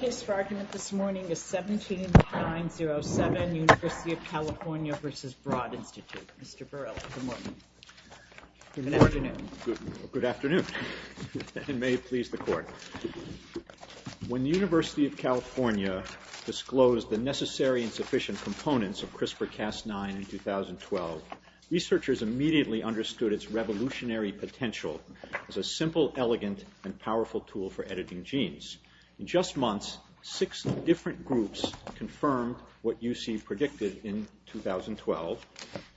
The case for argument this morning is 17-907, University of California v. Broad Institute. Mr. Burrell, good morning. Good afternoon. Good afternoon, and may it please the Court. When the University of California disclosed the necessary and sufficient components of CRISPR-Cas9 in 2012, researchers immediately understood its revolutionary potential as a simple, elegant, and powerful tool for editing genes. In just months, six different groups confirmed what UC predicted in 2012,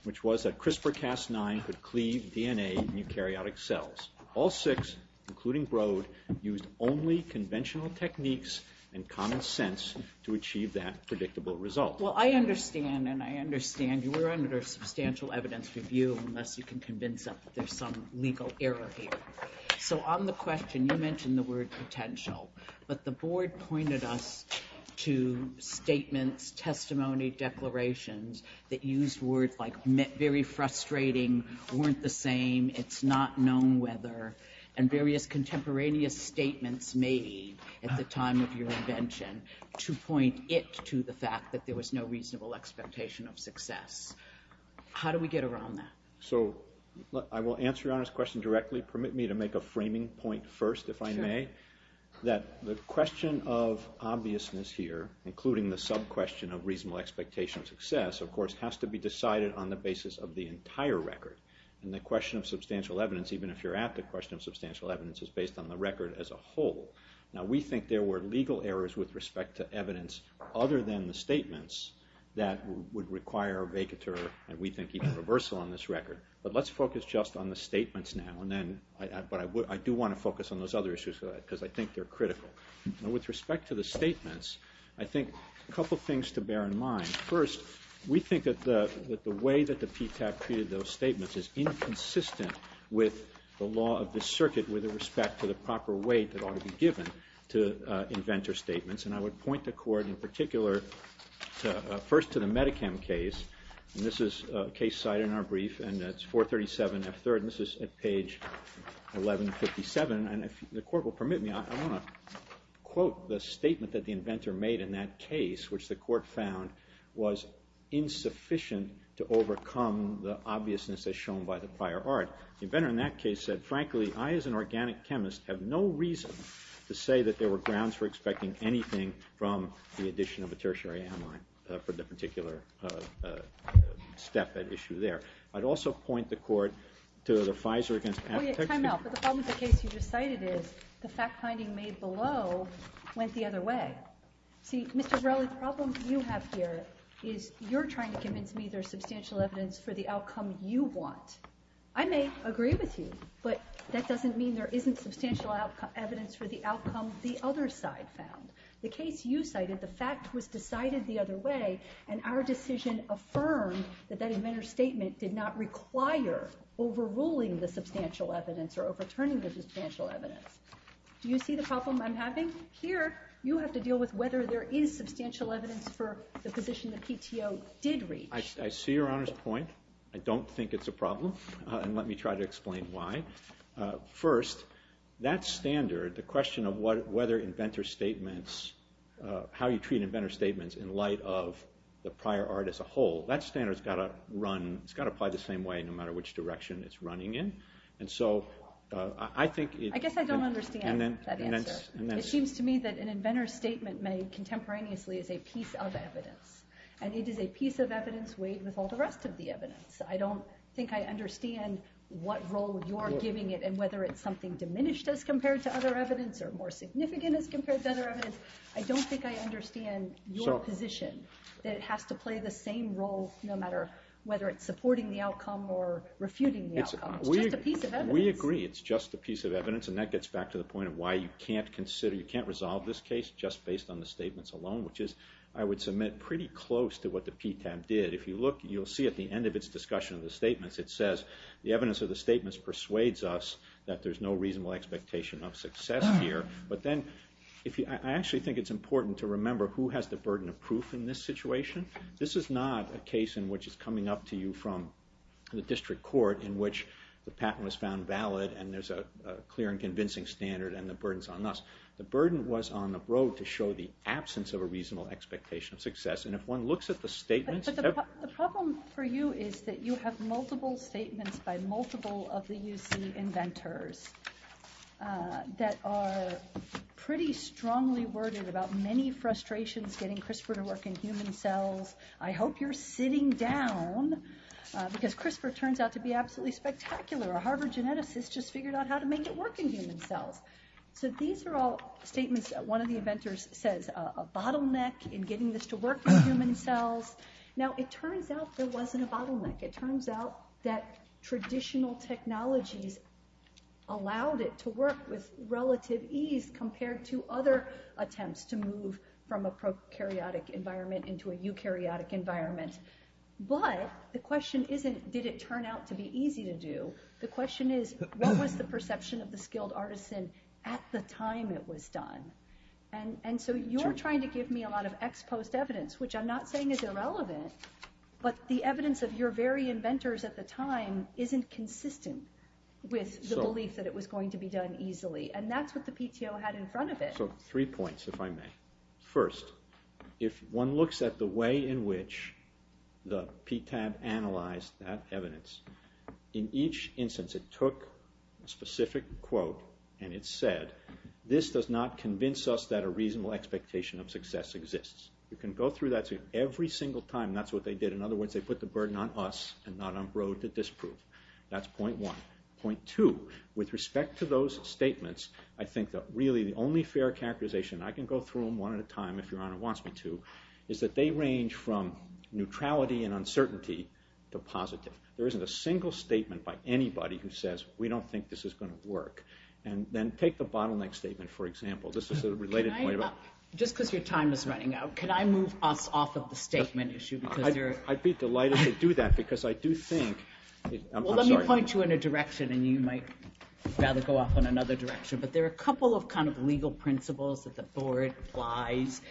which was that CRISPR-Cas9 could cleave DNA in eukaryotic cells. All six, including Broad, used only conventional techniques and common sense to achieve that predictable result. Well, I understand, and I understand you were under substantial evidence review, unless you can convince us that there's some legal error here. So on the question, you mentioned the word potential, but the Board pointed us to statements, testimony, declarations that used words like very frustrating, weren't the same, it's not known whether, and various contemporaneous statements made at the time of your invention to point it to the fact that there was no reasonable expectation of success. How do we get around that? So I will answer Your Honor's question directly. Permit me to make a framing point first, if I may, that the question of obviousness here, including the sub-question of reasonable expectation of success, of course, has to be decided on the basis of the entire record. And the question of substantial evidence, even if you're at the question of substantial evidence, is based on the record as a whole. Now, we think there were legal errors with respect to evidence other than the statements that would require a vacatur, and we think even a reversal on this record. But let's focus just on the statements now, but I do want to focus on those other issues because I think they're critical. With respect to the statements, I think a couple things to bear in mind. First, we think that the way that the PTAC treated those statements is inconsistent with the law of the circuit with respect to the proper weight that ought to be given to inventor statements. And I would point the Court, in particular, first to the Medichem case. And this is a case cited in our brief, and that's 437F3rd, and this is at page 1157. And if the Court will permit me, I want to quote the statement that the inventor made in that case, which the Court found was insufficient to overcome the obviousness as shown by the prior art. The inventor in that case said, frankly, I as an organic chemist have no reason to say that there were grounds for expecting anything from the addition of a tertiary amide for the particular step at issue there. I'd also point the Court to the FISR against aptitude. Time out. But the problem with the case you just cited is the fact-finding made below went the other way. See, Mr. Rowley, the problem you have here is you're trying to convince me there's substantial evidence for the outcome you want. I may agree with you, but that doesn't mean there isn't substantial evidence for the outcome the other side found. The case you cited, the fact was decided the other way, and our decision affirmed that that inventor's statement did not require overruling the substantial evidence or overturning the substantial evidence. Do you see the problem I'm having? Here you have to deal with whether there is substantial evidence for the position the PTO did reach. I see Your Honor's point. I don't think it's a problem, and let me try to explain why. First, that standard, the question of whether inventor's statements, how you treat inventor's statements in light of the prior art as a whole, that standard has got to apply the same way no matter which direction it's running in. I guess I don't understand that answer. It seems to me that an inventor's statement made contemporaneously is a piece of evidence, and it is a piece of evidence weighed with all the rest of the evidence. I don't think I understand what role you're giving it, and whether it's something diminished as compared to other evidence or more significant as compared to other evidence. I don't think I understand your position that it has to play the same role no matter whether it's supporting the outcome or refuting the outcome. It's just a piece of evidence. We agree it's just a piece of evidence, and that gets back to the point of why you can't consider, you can't resolve this case just based on the statements alone, which is, I would submit, pretty close to what the PTAM did. If you look, you'll see at the end of its discussion of the statements it says, the evidence of the statements persuades us that there's no reasonable expectation of success here, but then I actually think it's important to remember who has the burden of proof in this situation. This is not a case in which it's coming up to you from the district court in which the patent was found valid, and there's a clear and convincing standard, and the burden's on us. The burden was on the road to show the absence of a reasonable expectation of success, and if one looks at the statements... But the problem for you is that you have multiple statements by multiple of the UC inventors that are pretty strongly worded about many frustrations getting CRISPR to work in human cells. I hope you're sitting down, because CRISPR turns out to be absolutely spectacular. A Harvard geneticist just figured out how to make it work in human cells. So these are all statements that one of the inventors says, a bottleneck in getting this to work in human cells. Now, it turns out there wasn't a bottleneck. It turns out that traditional technologies allowed it to work with relative ease compared to other attempts to move from a prokaryotic environment into a eukaryotic environment. But the question isn't, did it turn out to be easy to do? The question is, what was the perception of the skilled artisan at the time it was done? And so you're trying to give me a lot of ex post evidence, which I'm not saying is irrelevant, but the evidence of your very inventors at the time isn't consistent with the belief that it was going to be done easily, and that's what the PTO had in front of it. So three points, if I may. First, if one looks at the way in which the PTAB analyzed that evidence, in each instance it took a specific quote and it said, this does not convince us that a reasonable expectation of success exists. You can go through that every single time, and that's what they did. In other words, they put the burden on us and not on Broad to disprove. That's point one. Point two, with respect to those statements, I think that really the only fair characterization, and I can go through them one at a time if your honor wants me to, is that they range from neutrality and uncertainty to positive. There isn't a single statement by anybody who says, we don't think this is going to work. And then take the bottleneck statement, for example. This is a related point about- Just because your time is running out, can I move us off of the statement issue? I'd be delighted to do that, because I do think- Well, let me point you in a direction, and you might rather go off on another direction, but there are a couple of kind of legal principles that the board applies,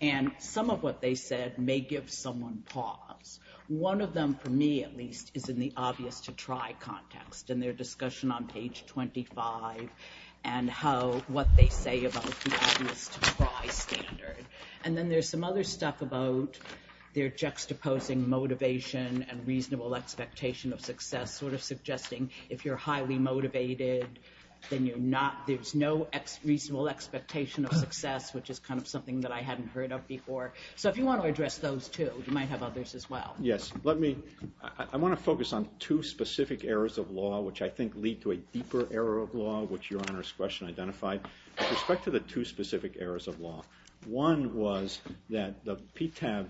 and some of what they said may give someone pause. One of them, for me at least, is in the obvious-to-try context, and their discussion on page 25, and what they say about the obvious-to-try standard. And then there's some other stuff about their juxtaposing motivation and reasonable expectation of success, sort of suggesting if you're highly motivated, then there's no reasonable expectation of success, which is kind of something that I hadn't heard of before. So if you want to address those two, you might have others as well. Yes. I want to focus on two specific areas of law, which I think lead to a deeper area of law, which Your Honor's question identified. With respect to the two specific areas of law, one was that the PTAB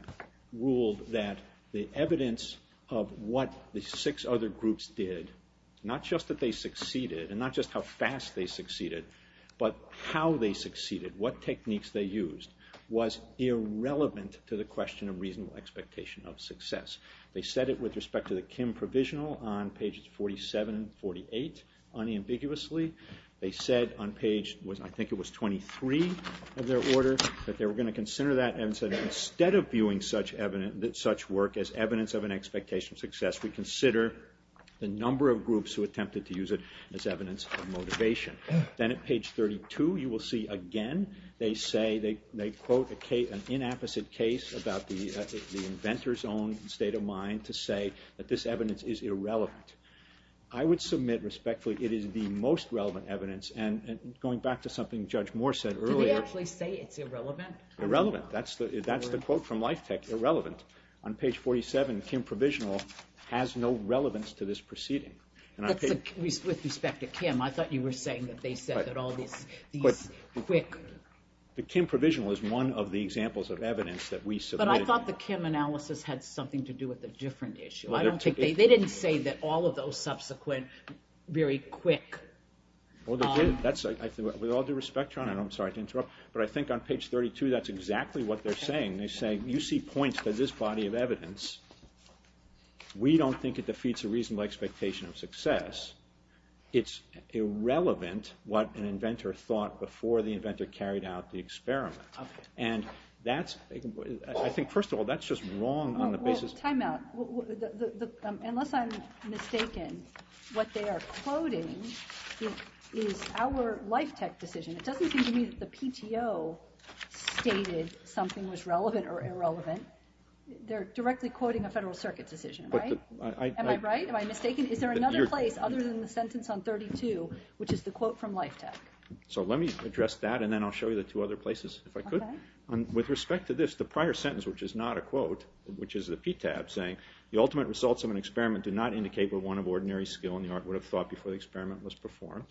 ruled that the evidence of what the six other groups did, not just that they succeeded, and not just how fast they succeeded, but how they succeeded, what techniques they used, was irrelevant to the question of reasonable expectation of success. They said it with respect to the Kim Provisional on pages 47 and 48, unambiguously. They said on page, I think it was 23 of their order, that they were going to consider that and said that instead of viewing such work as evidence of an expectation of success, we consider the number of groups who attempted to use it as evidence of motivation. Then at page 32, you will see again, they say, they quote an inapposite case about the inventor's own state of mind to say that this evidence is irrelevant. I would submit respectfully it is the most relevant evidence, and going back to something Judge Moore said earlier. Did they actually say it's irrelevant? Irrelevant. That's the quote from Life Tech, irrelevant. On page 47, Kim Provisional has no relevance to this proceeding. With respect to Kim, I thought you were saying that they said that all these The Kim Provisional is one of the examples of evidence that we submit. But I thought the Kim analysis had something to do with a different issue. They didn't say that all of those subsequent very quick. Well, they did. With all due respect, I'm sorry to interrupt, but I think on page 32, that's exactly what they're saying. They say, you see points to this body of evidence. We don't think it defeats a reasonable expectation of success. It's irrelevant what an inventor thought before the inventor carried out the experiment. And I think, first of all, that's just wrong on the basis of Well, time out. Unless I'm mistaken, what they are quoting is our Life Tech decision. It doesn't seem to me that the PTO stated something was relevant or irrelevant. They're directly quoting a Federal Circuit decision, right? Am I right? Am I mistaken? Is there another place other than the sentence on 32, which is the quote from Life Tech? So let me address that, and then I'll show you the two other places if I could. With respect to this, the prior sentence, which is not a quote, which is the PTAB saying, The ultimate results of an experiment do not indicate what one of ordinary skill in the art would have thought before the experiment was performed.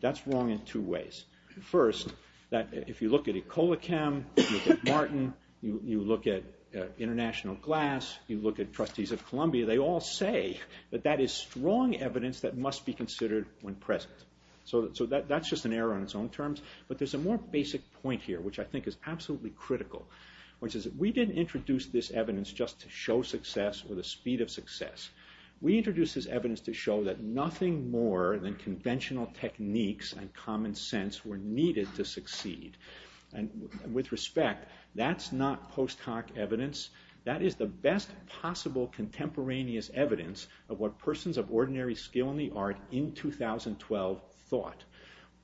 That's wrong in two ways. First, if you look at Ecolachem, you look at Martin, you look at International Glass, you look at Trustees of Columbia, they all say that that is strong evidence that must be considered when present. So that's just an error on its own terms. But there's a more basic point here, which I think is absolutely critical, which is that we didn't introduce this evidence just to show success or the speed of success. We introduced this evidence to show that nothing more than conventional techniques and common sense were needed to succeed. And with respect, that's not post-hoc evidence. That is the best possible contemporaneous evidence of what persons of ordinary skill in the art in 2012 thought.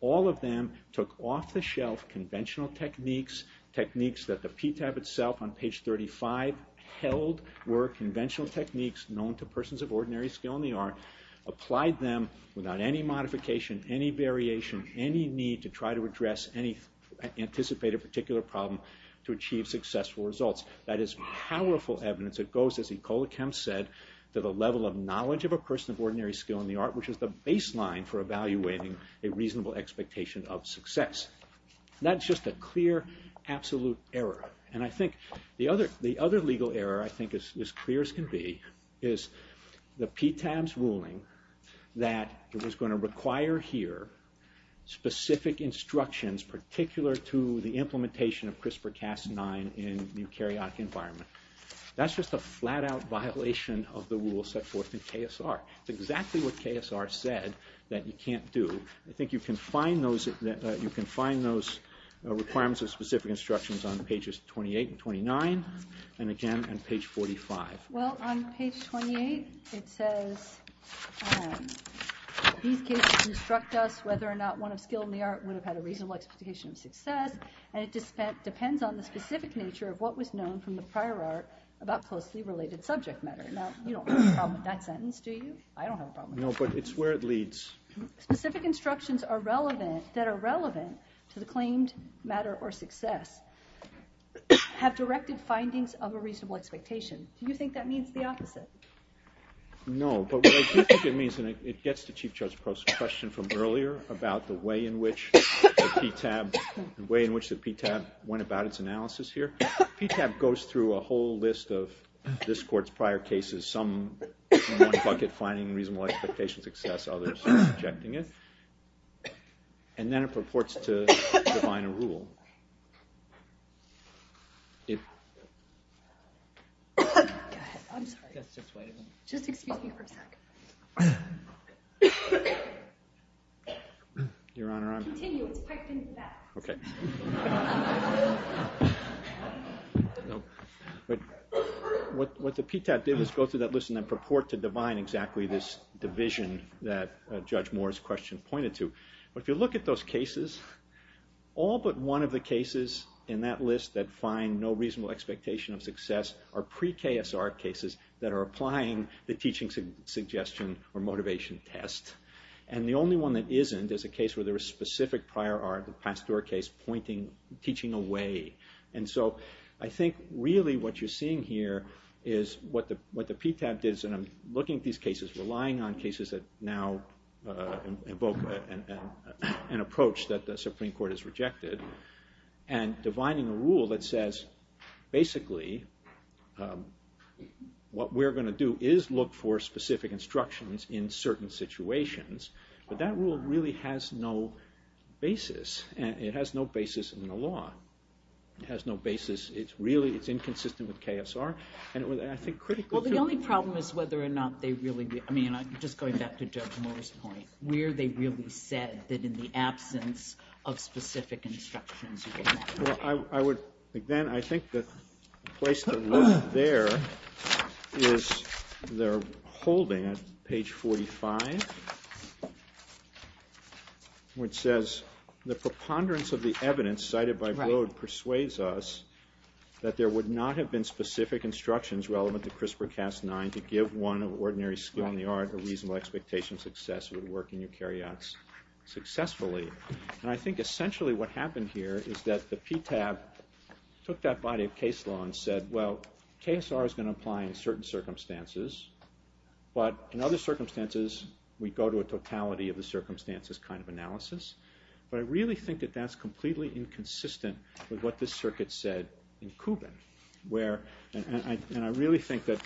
All of them took off-the-shelf conventional techniques, techniques that the PTAB itself on page 35 held were conventional techniques known to persons of ordinary skill in the art, applied them without any modification, any variation, any need to try to address any anticipated particular problem to achieve successful results. That is powerful evidence that goes, as Ecola Kemp said, to the level of knowledge of a person of ordinary skill in the art, which is the baseline for evaluating a reasonable expectation of success. That's just a clear, absolute error. And I think the other legal error, I think, as clear as can be, is the PTAB's ruling that it was going to require here specific instructions particular to the implementation of CRISPR-Cas9 in the eukaryotic environment. That's just a flat-out violation of the rule set forth in KSR. It's exactly what KSR said that you can't do. I think you can find those requirements of specific instructions on pages 28 and 29, and again on page 45. Well, on page 28, it says, these cases instruct us whether or not one of skill in the art would have had a reasonable expectation of success, and it depends on the specific nature of what was known from the prior art about closely related subject matter. Now, you don't have a problem with that sentence, do you? I don't have a problem with that. No, but it's where it leads. Specific instructions that are relevant to the claimed matter or success have directed findings of a reasonable expectation. Do you think that means the opposite? No, but what I do think it means, and it gets to Chief Judge Prost's question from earlier about the way in which the PTAB went about its analysis here, the PTAB goes through a whole list of this Court's prior cases, some in one bucket finding reasonable expectation of success, others rejecting it, and then it purports to define a rule. Go ahead. I'm sorry. Just wait a minute. Just excuse me for a second. Your Honor, I'm... Continue. It's piped into that. Okay. What the PTAB did was go through that list and then purport to define exactly this division that Judge Moore's question pointed to. But if you look at those cases, all but one of the cases in that list that find no reasonable expectation of success are pre-KSR cases that are applying the teaching suggestion or motivation test. And the only one that isn't is a case where there is specific prior art, the Pasteur case, pointing teaching away. And so I think really what you're seeing here is what the PTAB did, and I'm looking at these cases, relying on cases that now invoke an approach that the Supreme Court has rejected, and defining a rule that says basically what we're going to do is look for specific instructions in certain situations. But that rule really has no basis. It has no basis in the law. It has no basis. It's inconsistent with KSR. Well, the only problem is whether or not they really did. I mean, just going back to Judge Moore's point, where they really said that in the absence of specific instructions. Again, I think the place to look there is they're holding at page 45, which says, the preponderance of the evidence cited by Broad persuades us that there would not have been specific instructions relevant to CRISPR-Cas9 to give one ordinary school in the art a reasonable expectation success would work in eukaryotes successfully. And I think essentially what happened here is that the PTAB took that body of case law and said, well, KSR is going to apply in certain circumstances, but in other circumstances we go to a totality of the circumstances kind of analysis. But I really think that that's completely inconsistent with what this circuit said in Kubin. And I really think that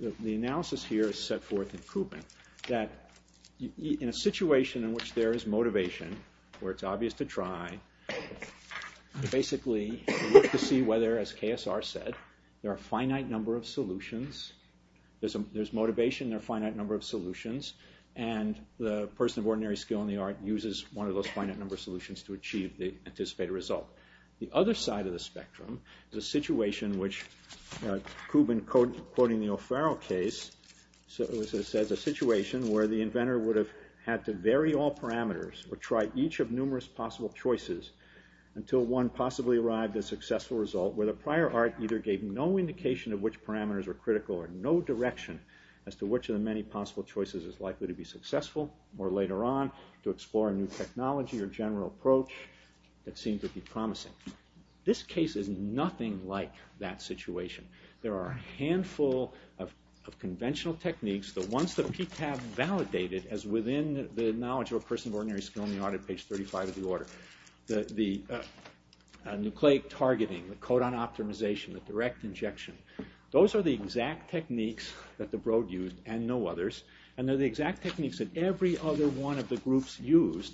the analysis here is set forth in Kubin, that in a situation in which there is motivation, where it's obvious to try, basically to see whether, as KSR said, there are a finite number of solutions, there's motivation, there are a finite number of solutions, and the person of ordinary skill in the art uses one of those finite number of solutions to achieve the anticipated result. The other side of the spectrum is a situation which, Kubin quoting the O'Farrell case, says a situation where the inventor would have had to vary all parameters or try each of numerous possible choices until one possibly arrived at a successful result where the prior art either gave no indication of which parameters were critical or no direction as to which of the many possible choices is likely to be successful or later on to explore a new technology or general approach that seems to be promising. This case is nothing like that situation. There are a handful of conventional techniques, the ones that PTAB validated as within the knowledge of a person of ordinary skill in the art at page 35 of the order. The nucleic targeting, the codon optimization, the direct injection, those are the exact techniques that the Broad used and no others and they're the exact techniques that every other one of the groups used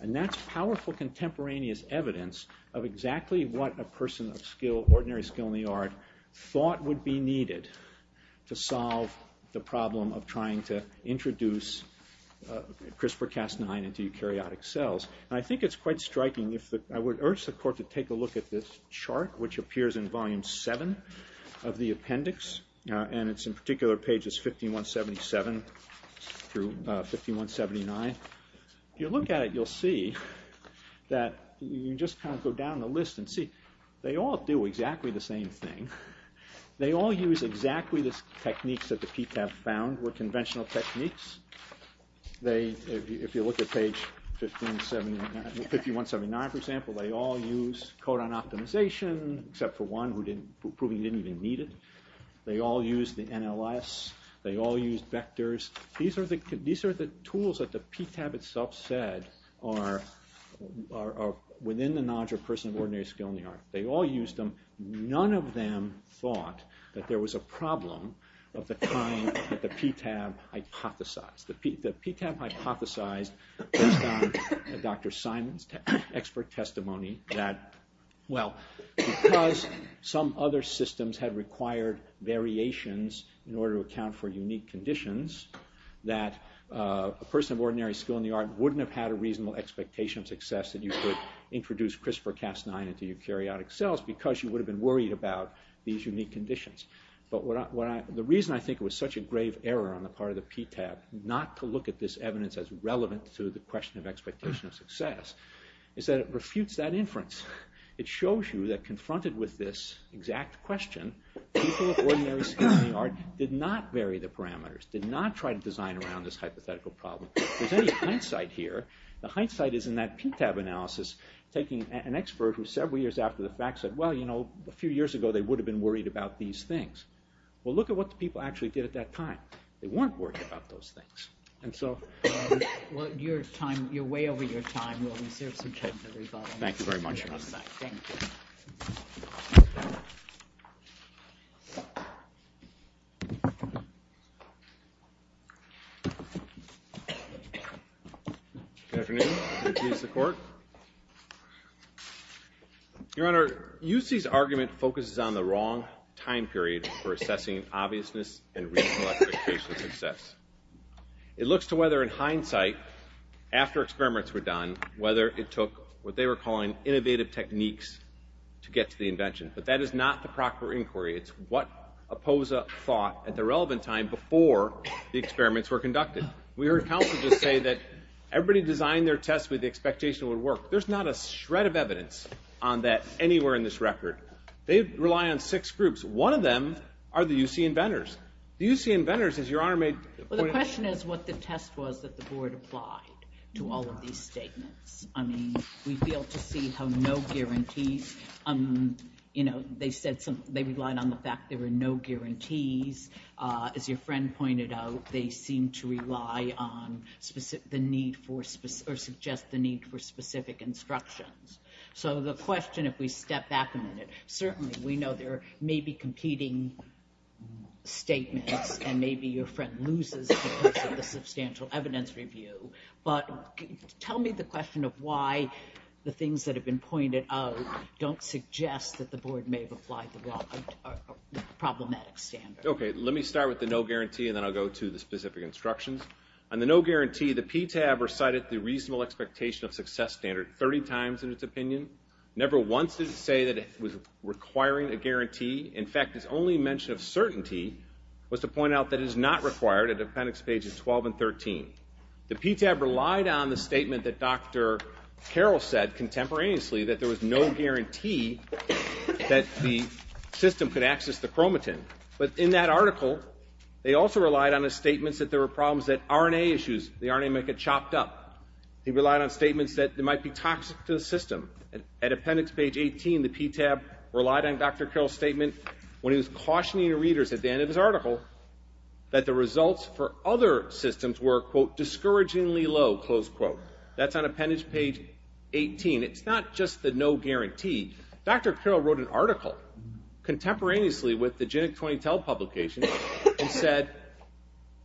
and that's powerful contemporaneous evidence of exactly what a person of ordinary skill in the art thought would be needed to solve the problem of trying to introduce CRISPR-Cas9 into eukaryotic cells. I think it's quite striking, I would urge the court to take a look at this chart which appears in volume 7 of the appendix and it's in particular pages 5177 through 5179. If you look at it, you'll see that you just kind of go down the list and see they all do exactly the same thing. They all use exactly the techniques that the PTAB found were conventional techniques. If you look at page 5179 for example, they all use codon optimization except for one who didn't even need it. They all use the NLS, they all use vectors. These are the tools that the PTAB itself said are within the knowledge of a person of ordinary skill in the art. They all used them, none of them thought that there was a problem of the kind that the PTAB hypothesized. The PTAB hypothesized based on Dr. Simon's expert testimony that well, because some other systems had required variations in order to account for unique conditions that a person of ordinary skill in the art wouldn't have had a reasonable expectation of success that you could introduce CRISPR-Cas9 into your eukaryotic cells because you would have been worried about these unique conditions. But the reason I think it was such a grave error on the part of the PTAB not to look at this evidence as relevant to the question of expectation of success is that it refutes that inference. It shows you that confronted with this exact question, people of ordinary skill in the art did not vary the parameters, did not try to design around this hypothetical problem. There's any hindsight here. The hindsight is in that PTAB analysis taking an expert who several years after the fact said well, you know, a few years ago they would have been worried about these things. Well, look at what the people actually did at that time. They weren't worried about those things. Well, you're way over your time. We'll reserve some time for rebuttal. Thank you very much. Good afternoon. Good day to the court. Your Honor, UC's argument focuses on the wrong time period for assessing obviousness and recollection of expectation of success. It looks to whether in hindsight after experiments were done, whether it took what they were calling innovative techniques to get to the invention. But that is not the proper inquiry. It's what OPOSA thought at the relevant time before the experiments were conducted. We heard counsel just say that everybody designed their test with the expectation it would work. There's not a shred of evidence on that anywhere in this record. They rely on six groups. One of them are the UC inventors. The UC inventors, as Your Honor made the point. Well, the question is what the test was that the board applied to all of these statements. I mean, we failed to see how no guarantees, you know, they relied on the fact there were no guarantees. As your friend pointed out, they seem to rely on the need for specific instructions. So the question, if we step back a minute, certainly we know there may be competing statements and maybe your friend loses because of the substantial evidence review. But tell me the question of why the things that have been pointed out don't suggest that the board may have applied the problematic standard. Okay, let me start with the no guarantee and then I'll go to the specific instructions. On the no guarantee, the PTAB recited the reasonable expectation of success standard 30 times in its opinion. Never once did it say that it was requiring a guarantee. In fact, its only mention of certainty was to point out that it is not required at appendix pages 12 and 13. The PTAB relied on the statement that Dr. Carroll said contemporaneously that there was no guarantee that the system could access the chromatin. But in that article, they also relied on the statements that there were problems that RNA issues, the RNA might get chopped up. They relied on statements that it might be toxic to the system. At appendix page 18, the PTAB relied on Dr. Carroll's statement that the results for other systems were, quote, discouragingly low, close quote. That's on appendix page 18. It's not just the no guarantee. Dr. Carroll wrote an article contemporaneously with the Genic20Tel publication and said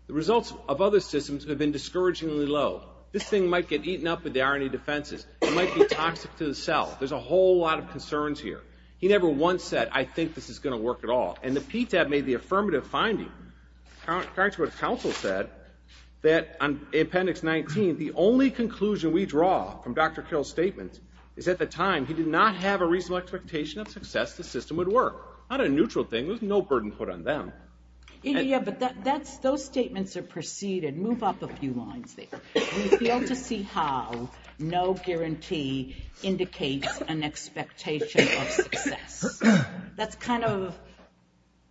the results of other systems have been discouragingly low. This thing might get eaten up with the RNA defenses. It might be toxic to the cell. There's a whole lot of concerns here. He never once said, I think this is going to work at all. And the PTAB made the affirmative finding, according to what counsel said, that on appendix 19, the only conclusion we draw from Dr. Carroll's statement is at the time he did not have a reasonable expectation of success the system would work. Not a neutral thing. There was no burden put on them. Yeah, but those statements are preceded. Move up a few lines there. We fail to see how no guarantee indicates an expectation of success. That's kind of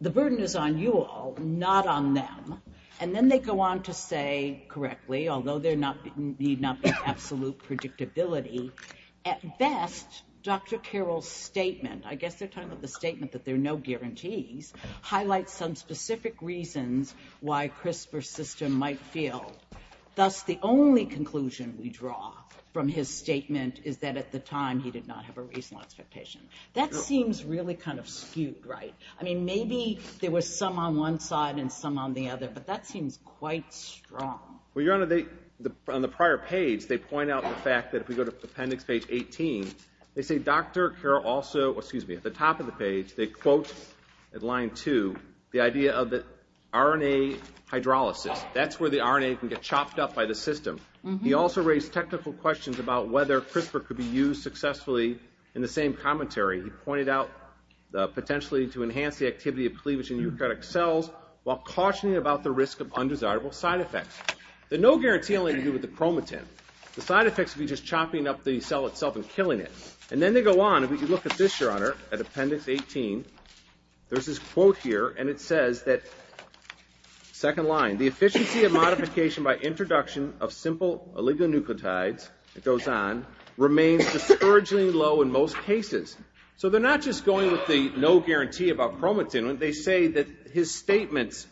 the burden is on you all, not on them. And then they go on to say correctly, although there need not be absolute predictability, at best, Dr. Carroll's statement, I guess they're talking about the statement that there are no guarantees, highlights some specific reasons why CRISPR's system might fail. Thus, the only conclusion we draw from his statement is that at the time he did not have a reasonable expectation. That seems really kind of skewed, right? I mean, maybe there was some on one side and some on the other, but that seems quite strong. Well, Your Honor, on the prior page, they point out the fact that if we go to appendix page 18, they say Dr. Carroll also, excuse me, at the top of the page, they quote at line 2, the idea of the RNA hydrolysis. That's where the RNA can get chopped up by the system. He also raised technical questions about whether CRISPR could be used successfully in the same commentary. He pointed out the potential need to enhance the activity of cleavage in eukaryotic cells while cautioning about the risk of undesirable side effects. The no guarantee only to do with the chromatin. The side effects would be just chopping up the cell itself and killing it. And then they go on, and if you look at this, Your Honor, at appendix 18, there's this quote here, and it says that, second line, the efficiency of modification by introduction of simple oligonucleotides, it goes on, remains discouragingly low in most cases. So they're not just going with the no guarantee about chromatin. They say that his statements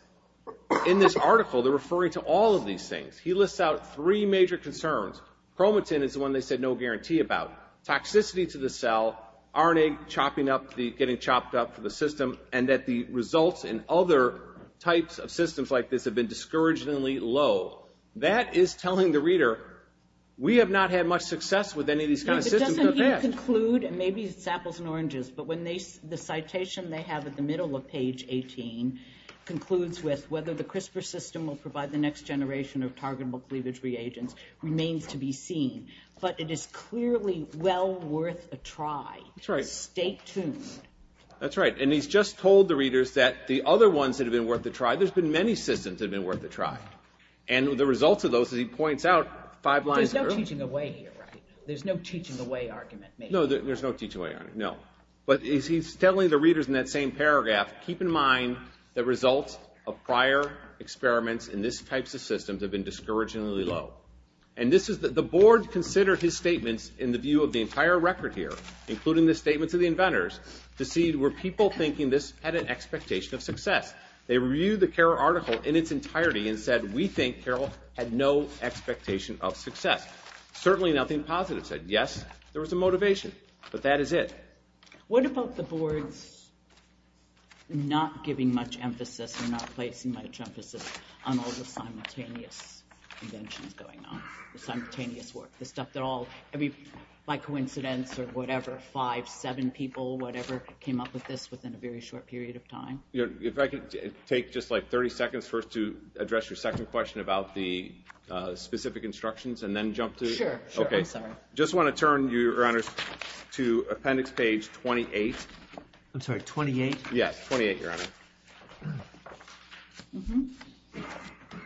in this article, they're referring to all of these things. He lists out three major concerns. Chromatin is the one they said no guarantee about. Toxicity to the cell, RNA chopping up, getting chopped up for the system, and that the results in other types of systems like this have been discouragingly low. That is telling the reader, we have not had much success with any of these kinds of systems in the past. It doesn't even conclude, and maybe it's apples and oranges, but the citation they have at the middle of page 18 concludes with, whether the CRISPR system will provide the next generation of targetable cleavage reagents remains to be seen. But it is clearly well worth a try. That's right. Stay tuned. That's right. And he's just told the readers that the other ones that have been worth a try, there's been many systems that have been worth a try. And the results of those, as he points out, five lines through. There's no teaching away here, right? There's no teaching away argument. No, there's no teaching away argument, no. But he's telling the readers in that same paragraph, keep in mind the results of prior experiments in these types of systems have been discouragingly low. And this is the board considered his statements in the view of the entire record here, including the statements of the inventors, to see were people thinking this had an expectation of success. They reviewed the Carroll article in its entirety and said, we think Carroll had no expectation of success. Certainly nothing positive. Yes, there was a motivation, but that is it. What about the board's not giving much emphasis or not placing much emphasis on all the simultaneous inventions going on, the stuff that all, by coincidence or whatever, five, seven people, whatever, came up with this within a very short period of time? If I could take just like 30 seconds first to address your second question about the specific instructions and then jump to it. Sure, I'm sorry. Just want to turn, Your Honor, to appendix page 28. I'm sorry, 28? Yes, 28, Your Honor.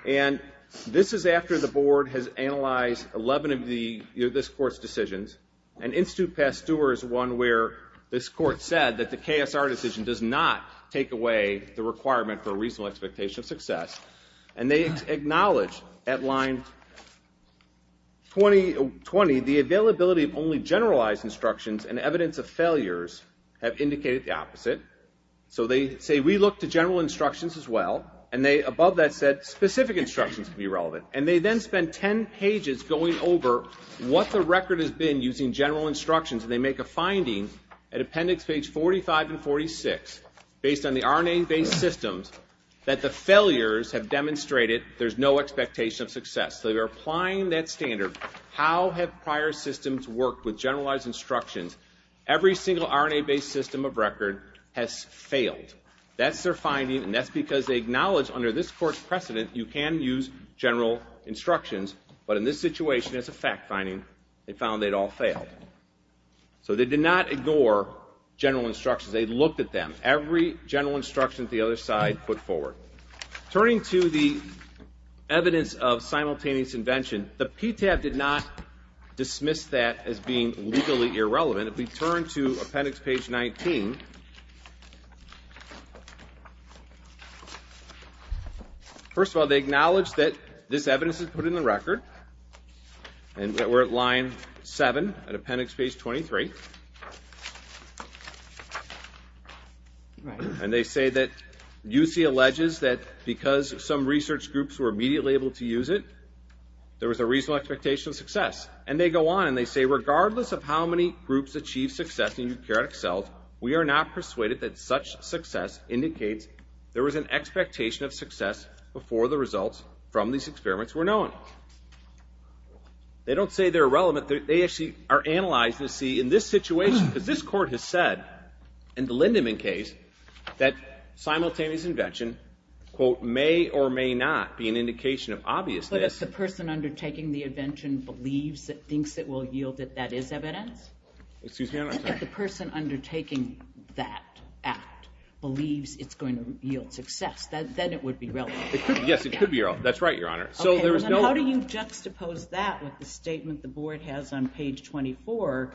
And this is after the board has analyzed 11 of this court's decisions. And Institute Pasteur is one where this court said that the KSR decision does not take away the requirement for a reasonable expectation of success. And they acknowledge at line 20, the availability of only generalized instructions and evidence of failures have indicated the opposite. So they say, we look to general instructions as well. And above that said, specific instructions can be relevant. And they then spend 10 pages going over what the record has been using general instructions. And they make a finding at appendix page 45 and 46, based on the RNA-based systems, that the failures have demonstrated there's no expectation of success. So they're applying that standard. How have prior systems worked with generalized instructions? Every single RNA-based system of record has failed. That's their finding. And that's because they acknowledge under this court's precedent, you can use general instructions. But in this situation, it's a fact finding. They found they'd all failed. So they did not ignore general instructions. They looked at them. Every general instruction that the other side put forward. Turning to the evidence of simultaneous invention, the PTAB did not dismiss that as being legally irrelevant. If we turn to appendix page 19, first of all, they acknowledge that this evidence is put in the record. And we're at line 7 at appendix page 23. And they say that UC alleges that because some research groups were immediately able to use it, there was a reasonable expectation of success. And they go on and they say, regardless of how many groups achieved success in eukaryotic cells, we are not persuaded that such success indicates there was an expectation of success before the results from these experiments were known. They don't say they're irrelevant. They actually are analyzed to see in this situation, because this court has said, in the Lindeman case, that simultaneous invention, quote, may or may not be an indication of obviousness. But if the person undertaking the invention believes, thinks it will yield that that is evidence? Excuse me, Your Honor. If the person undertaking that act believes it's going to yield success, then it would be relevant. Yes, it could be relevant. That's right, Your Honor. Okay, and then how do you juxtapose that with the statement the board has on page 24,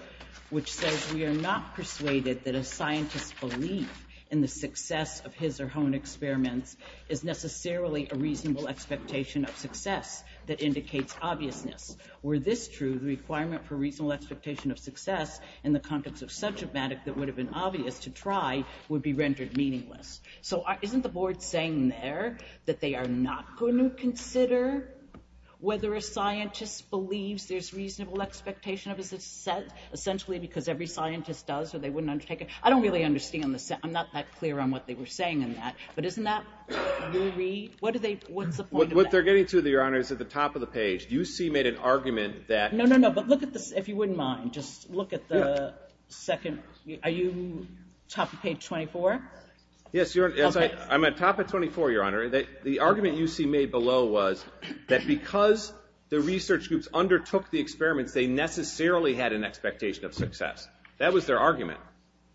which says we are not persuaded that a scientist's belief in the success of his or her own experiments is necessarily a reasonable expectation of success that indicates obviousness. Were this true, the requirement for reasonable expectation of success in the context of sub-traumatic that would have been obvious to try would be rendered meaningless. So isn't the board saying there that they are not going to consider whether a scientist believes there's reasonable expectation of success, essentially because every scientist does, or they wouldn't undertake it? I don't really understand this. I'm not that clear on what they were saying in that. But isn't that your read? What's the point of that? What they're getting to, Your Honor, is at the top of the page. You see made an argument that— No, no, no. But look at this, if you wouldn't mind. Just look at the second. Are you top of page 24? Yes, Your Honor. I'm at top of 24, Your Honor. The argument you see made below was that because the research groups undertook the experiments, they necessarily had an expectation of success. That was their argument.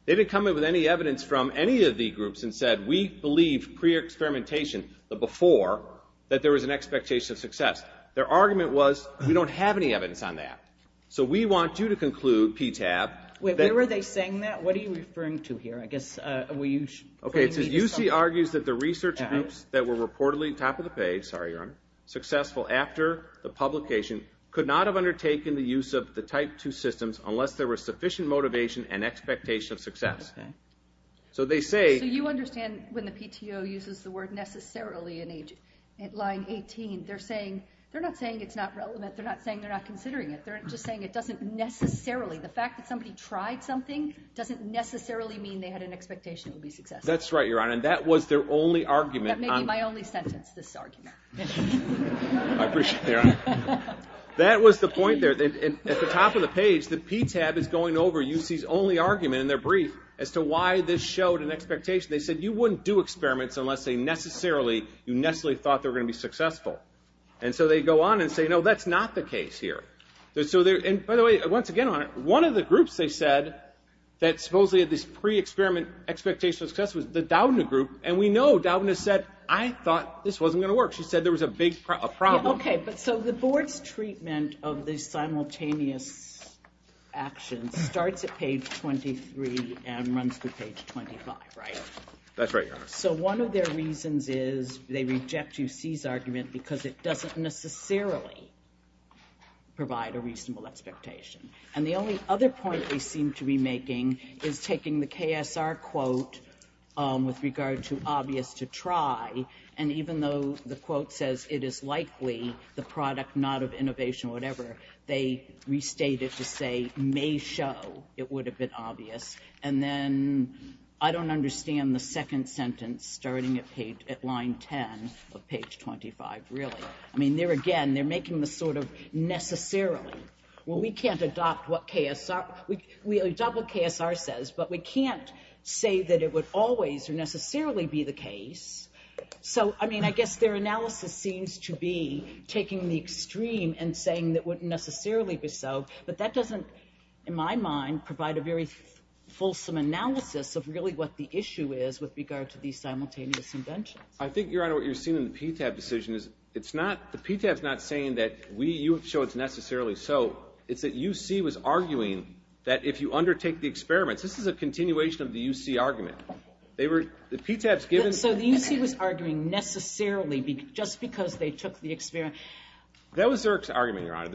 They didn't come in with any evidence from any of the groups and said, we believe pre-experimentation, the before, that there was an expectation of success. Their argument was, we don't have any evidence on that. So we want you to conclude, PTAB— Wait, where were they saying that? What are you referring to here? Okay, it says, UC argues that the research groups that were reportedly top of the page— sorry, Your Honor—successful after the publication could not have undertaken the use of the type 2 systems unless there was sufficient motivation and expectation of success. So they say— So you understand when the PTO uses the word necessarily in line 18, they're not saying it's not relevant. They're not saying they're not considering it. They're just saying it doesn't necessarily— That's right, Your Honor, and that was their only argument. That may be my only sentence, this argument. I appreciate that, Your Honor. That was the point there. At the top of the page, the PTAB is going over UC's only argument in their brief as to why this showed an expectation. They said, you wouldn't do experiments unless they necessarily— you necessarily thought they were going to be successful. And so they go on and say, no, that's not the case here. And by the way, once again, Your Honor, one of the groups they said that supposedly had this pre-experiment expectation of success was the Doudna group. And we know Doudna said, I thought this wasn't going to work. She said there was a big problem. Okay, but so the board's treatment of the simultaneous actions starts at page 23 and runs through page 25, right? That's right, Your Honor. So one of their reasons is they reject UC's argument because it doesn't necessarily provide a reasonable expectation. And the only other point they seem to be making is taking the KSR quote with regard to obvious to try, and even though the quote says it is likely the product not of innovation or whatever, they restate it to say may show it would have been obvious. And then I don't understand the second sentence starting at line 10 of page 25, really. I mean, there again, they're making this sort of necessarily. Well, we can't adopt what KSR says, but we can't say that it would always necessarily be the case. So, I mean, I guess their analysis seems to be taking the extreme and saying that it wouldn't necessarily be so, but that doesn't, in my mind, provide a very fulsome analysis of really what the issue is with regard to these simultaneous inventions. I think, Your Honor, what you're seeing in the PTAB decision is the PTAB's not saying that you show it's necessarily so. It's that UC was arguing that if you undertake the experiments, this is a continuation of the UC argument. So the UC was arguing necessarily just because they took the experiment. That was Zerk's argument, Your Honor.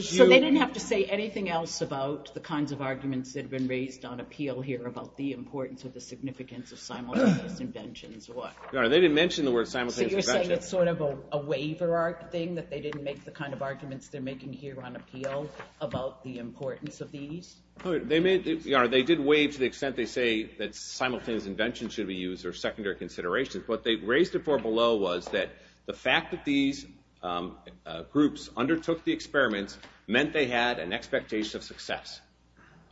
So they didn't have to say anything else about the kinds of arguments that have been raised on appeal here about the importance or the significance of simultaneous inventions or what? Your Honor, they didn't mention the word simultaneous inventions. So you're saying it's sort of a waiver-art thing, that they didn't make the kind of arguments they're making here on appeal about the importance of these? Your Honor, they did waive to the extent they say that simultaneous inventions should be used or secondary considerations. What they raised it for below was that the fact that these groups undertook the experiments meant they had an expectation of success,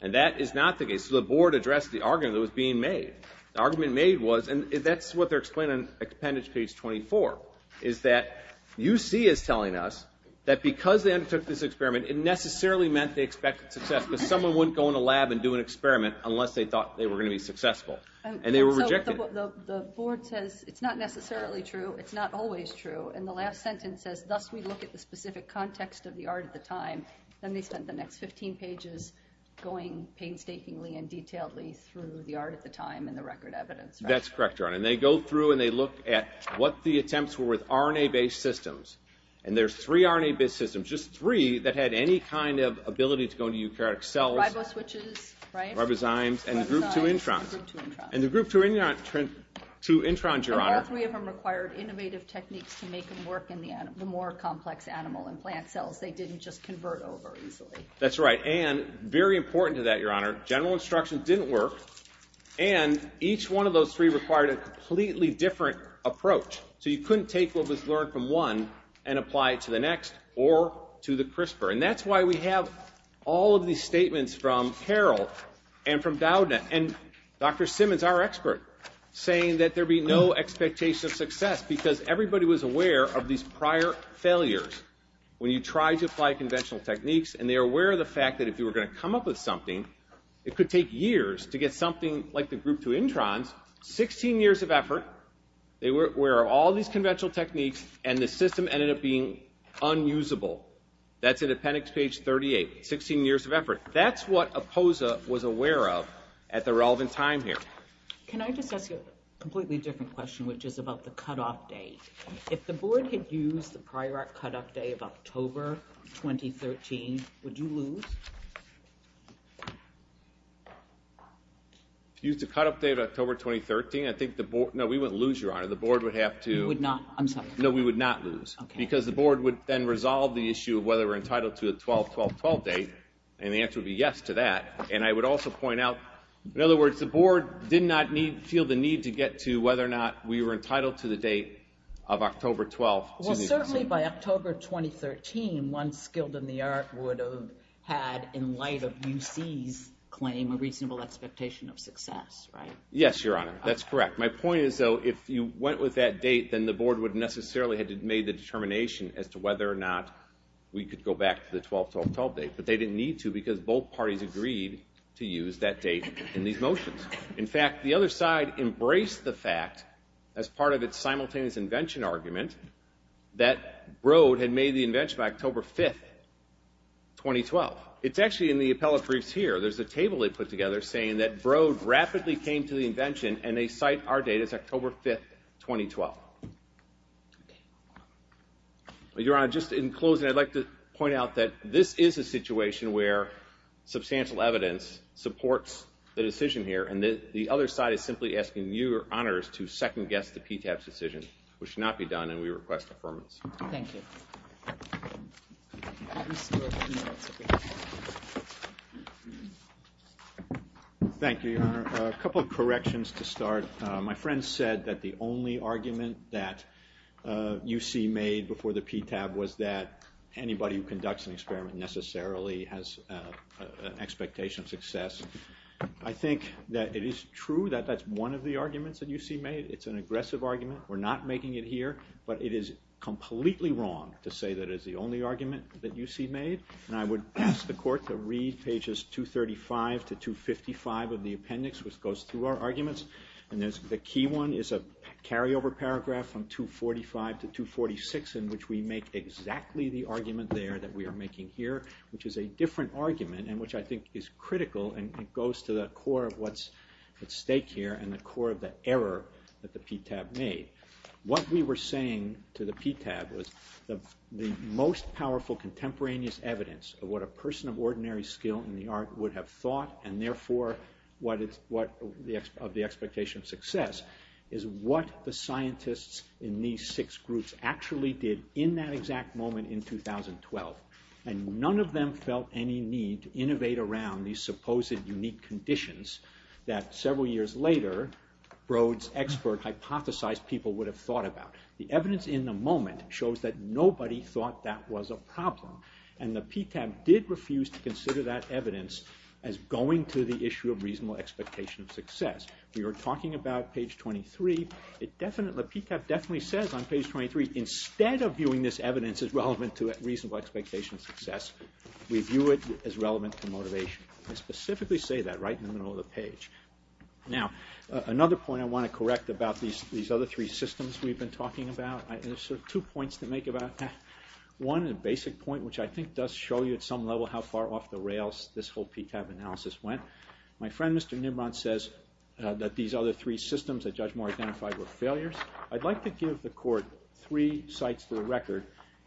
and that is not the case. So the board addressed the argument that was being made. The argument made was, and that's what they're explaining on appendage page 24, is that UC is telling us that because they undertook this experiment, it necessarily meant they expected success, but someone wouldn't go in a lab and do an experiment unless they thought they were going to be successful, and they were rejected. So the board says it's not necessarily true, it's not always true, and the last sentence says, thus we look at the specific context of the art at the time. Then they spent the next 15 pages going painstakingly and detailedly through the art at the time and the record evidence. That's correct, Your Honor. And they go through and they look at what the attempts were with RNA-based systems, and there's three RNA-based systems, just three, that had any kind of ability to go into eukaryotic cells. Riboswitches, right? Ribozymes and the group 2 introns. And the group 2 introns, Your Honor. But all three of them required innovative techniques to make them work in the more complex animal and plant cells. They didn't just convert over easily. That's right, and very important to that, Your Honor, general instruction didn't work, and each one of those three required a completely different approach. So you couldn't take what was learned from one and apply it to the next or to the CRISPR. And that's why we have all of these statements from Carol and from Doudna, and Dr. Simmons, our expert, saying that there be no expectation of success because everybody was aware of these prior failures when you tried to apply conventional techniques, and they were aware of the fact that if you were going to come up with something, it could take years to get something like the group 2 introns, 16 years of effort, where all these conventional techniques and the system ended up being unusable. That's in appendix page 38, 16 years of effort. That's what APOSA was aware of at the relevant time here. Can I just ask you a completely different question, which is about the cutoff date? If the board had used the prior cutoff date of October 2013, would you lose? If you used the cutoff date of October 2013, I think the board, no, we wouldn't lose, Your Honor. The board would have to. You would not, I'm sorry. No, we would not lose. Because the board would then resolve the issue of whether we're entitled to a 12-12-12 date, and the answer would be yes to that. And I would also point out, in other words, the board did not feel the need to get to whether or not we were entitled to the date of October 12, 2013. Well, certainly by October 2013, one skilled in the art would have had, in light of UC's claim, a reasonable expectation of success, right? Yes, Your Honor. That's correct. My point is, though, if you went with that date, then the board would necessarily have made the determination as to whether or not we could go back to the 12-12-12 date. But they didn't need to, because both parties agreed to use that date in these motions. In fact, the other side embraced the fact, as part of its simultaneous invention argument, that Broad had made the invention by October 5, 2012. It's actually in the appellate briefs here. There's a table they put together saying that Broad rapidly came to the invention, and they cite our date as October 5, 2012. Your Honor, just in closing, I'd like to point out that this is a situation where substantial evidence supports the decision here. And the other side is simply asking you, Your Honors, to second-guess the PTAB's decision, which should not be done, and we request affirmance. Thank you. Thank you, Your Honor. A couple of corrections to start. My friend said that the only argument that UC made before the PTAB was that anybody who conducts an experiment necessarily has an expectation of success. I think that it is true that that's one of the arguments that UC made. It's an aggressive argument. We're not making it here, but it is completely wrong to say that it's the only argument that UC made. And I would ask the Court to read pages 235 to 255 of the appendix, which goes through our arguments. And the key one is a carryover paragraph from 245 to 246 in which we make exactly the argument there that we are making here, which is a different argument and which I think is critical, and it goes to the core of what's at stake here and the core of the error that the PTAB made. What we were saying to the PTAB was the most powerful contemporaneous evidence of what a person of ordinary skill in the art would have thought, and therefore of the expectation of success, is what the scientists in these six groups actually did in that exact moment in 2012. And none of them felt any need to innovate around these supposed unique conditions that several years later Brode's expert hypothesized people would have thought about. The evidence in the moment shows that nobody thought that was a problem. And the PTAB did refuse to consider that evidence as going to the issue of reasonable expectation of success. We were talking about page 23. The PTAB definitely says on page 23, instead of viewing this evidence as relevant to reasonable expectation of success, we view it as relevant to motivation. They specifically say that right in the middle of the page. Now, another point I want to correct about these other three systems we've been talking about. There's sort of two points to make about that. One is a basic point, which I think does show you at some level how far off the rails this whole PTAB analysis went. My friend, Mr. Nimrod, says that these other three systems that Judge Moore identified were failures. I'd like to give the court three sites to the record,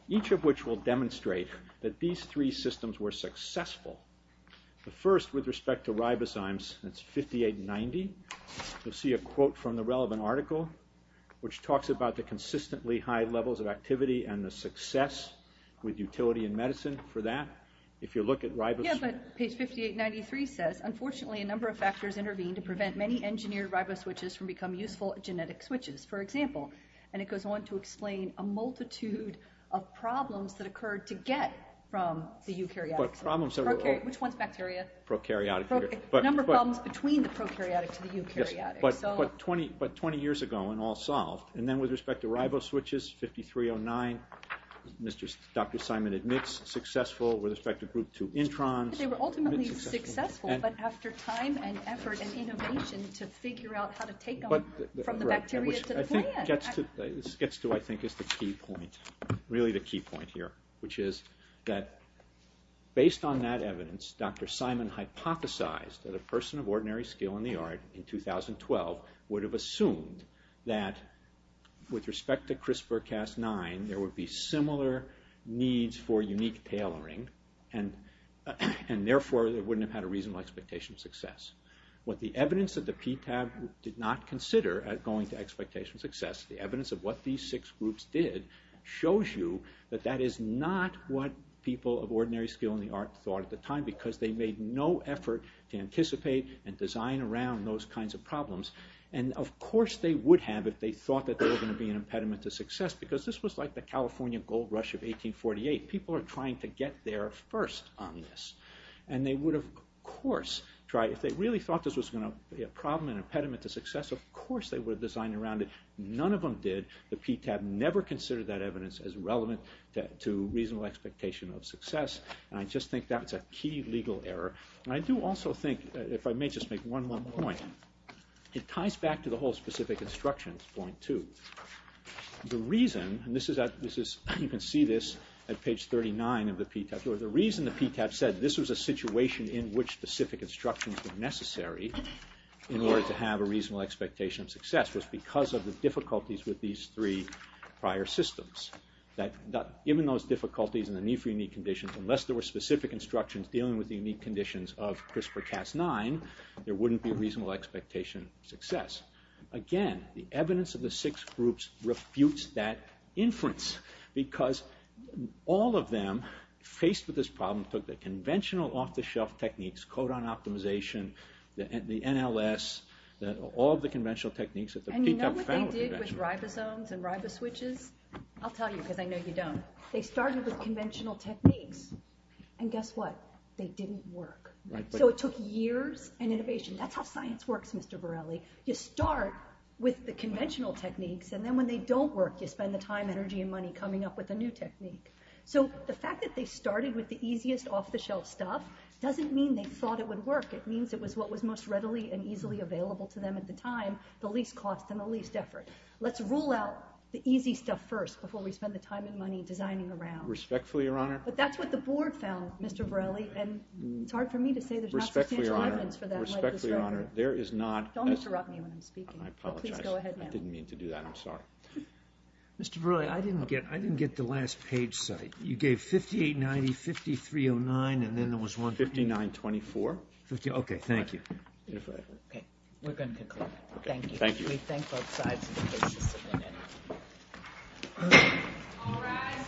each of which will demonstrate that these three systems were successful. The first, with respect to ribozymes, that's 5890. You'll see a quote from the relevant article, which talks about the consistently high levels of activity and the success with utility in medicine for that. If you look at ribos... Yeah, but page 5893 says, unfortunately a number of factors intervened to prevent many engineered riboswitches from becoming useful genetic switches, for example. And it goes on to explain a multitude of problems that occurred to get from the eukaryotic. Which one's bacteria? Prokaryotic. A number of problems between the prokaryotic to the eukaryotic. But 20 years ago and all solved. And then with respect to riboswitches, 5309, Dr. Simon admits successful. With respect to group 2 introns... They were ultimately successful, but after time and effort and innovation to figure out how to take them from the bacteria to the plant. This gets to, I think, is the key point. Really the key point here. Which is that based on that evidence, Dr. Simon hypothesized that a person of ordinary skill in the art in 2012 would have assumed that with respect to CRISPR-Cas9, there would be similar needs for unique tailoring and therefore they wouldn't have had a reasonable expectation of success. What the evidence of the PTAB did not consider going to expectation of success, the evidence of what these six groups did, shows you that that is not what people of ordinary skill in the art thought at the time because they made no effort to anticipate and design around those kinds of problems. And of course they would have if they thought that they were going to be an impediment to success because this was like the California gold rush of 1848. People are trying to get there first on this. And they would of course try, if they really thought this was going to be a problem and impediment to success, of course they would have designed around it. None of them did. The PTAB never considered that evidence as relevant to reasonable expectation of success. And I just think that's a key legal error. And I do also think, if I may just make one more point, it ties back to the whole specific instructions point too. The reason, and this is, you can see this at page 39 of the PTAB, but the reason the PTAB said this was a situation in which specific instructions were necessary in order to have a reasonable expectation of success was because of the difficulties with these three prior systems. Even those difficulties and the need for unique conditions, unless there were specific instructions dealing with the unique conditions of CRISPR-Cas9, there wouldn't be reasonable expectation of success. Again, the evidence of the six groups refutes that inference because all of them faced with this problem took the conventional off-the-shelf techniques, codon optimization, the NLS, all of the conventional techniques at the PTAB. And you know what they did with ribosomes and riboswitches? I'll tell you because I know you don't. They started with conventional techniques. And guess what? They didn't work. So it took years and innovation. That's how science works, Mr. Borrelli. You start with the conventional techniques and then when they don't work, you spend the time, energy, and money coming up with a new technique. So the fact that they started with the easiest off-the-shelf stuff doesn't mean they thought it would work. It means it was what was most readily and easily available to them at the time, the least cost and the least effort. Let's rule out the easy stuff first before we spend the time and money designing around. Respectfully, Your Honor... But that's what the board found, Mr. Borrelli, and it's hard for me to say there's not substantial evidence for that. Respectfully, Your Honor, there is not... Don't interrupt me when I'm speaking. I apologize. I didn't mean to do that. I'm sorry. Mr. Borrelli, I didn't get the last page cited. You gave 5890, 5309, and then there was one... 5924. Okay, thank you. Okay, we're going to conclude. Thank you. Thank you. We thank both sides of the case. All rise.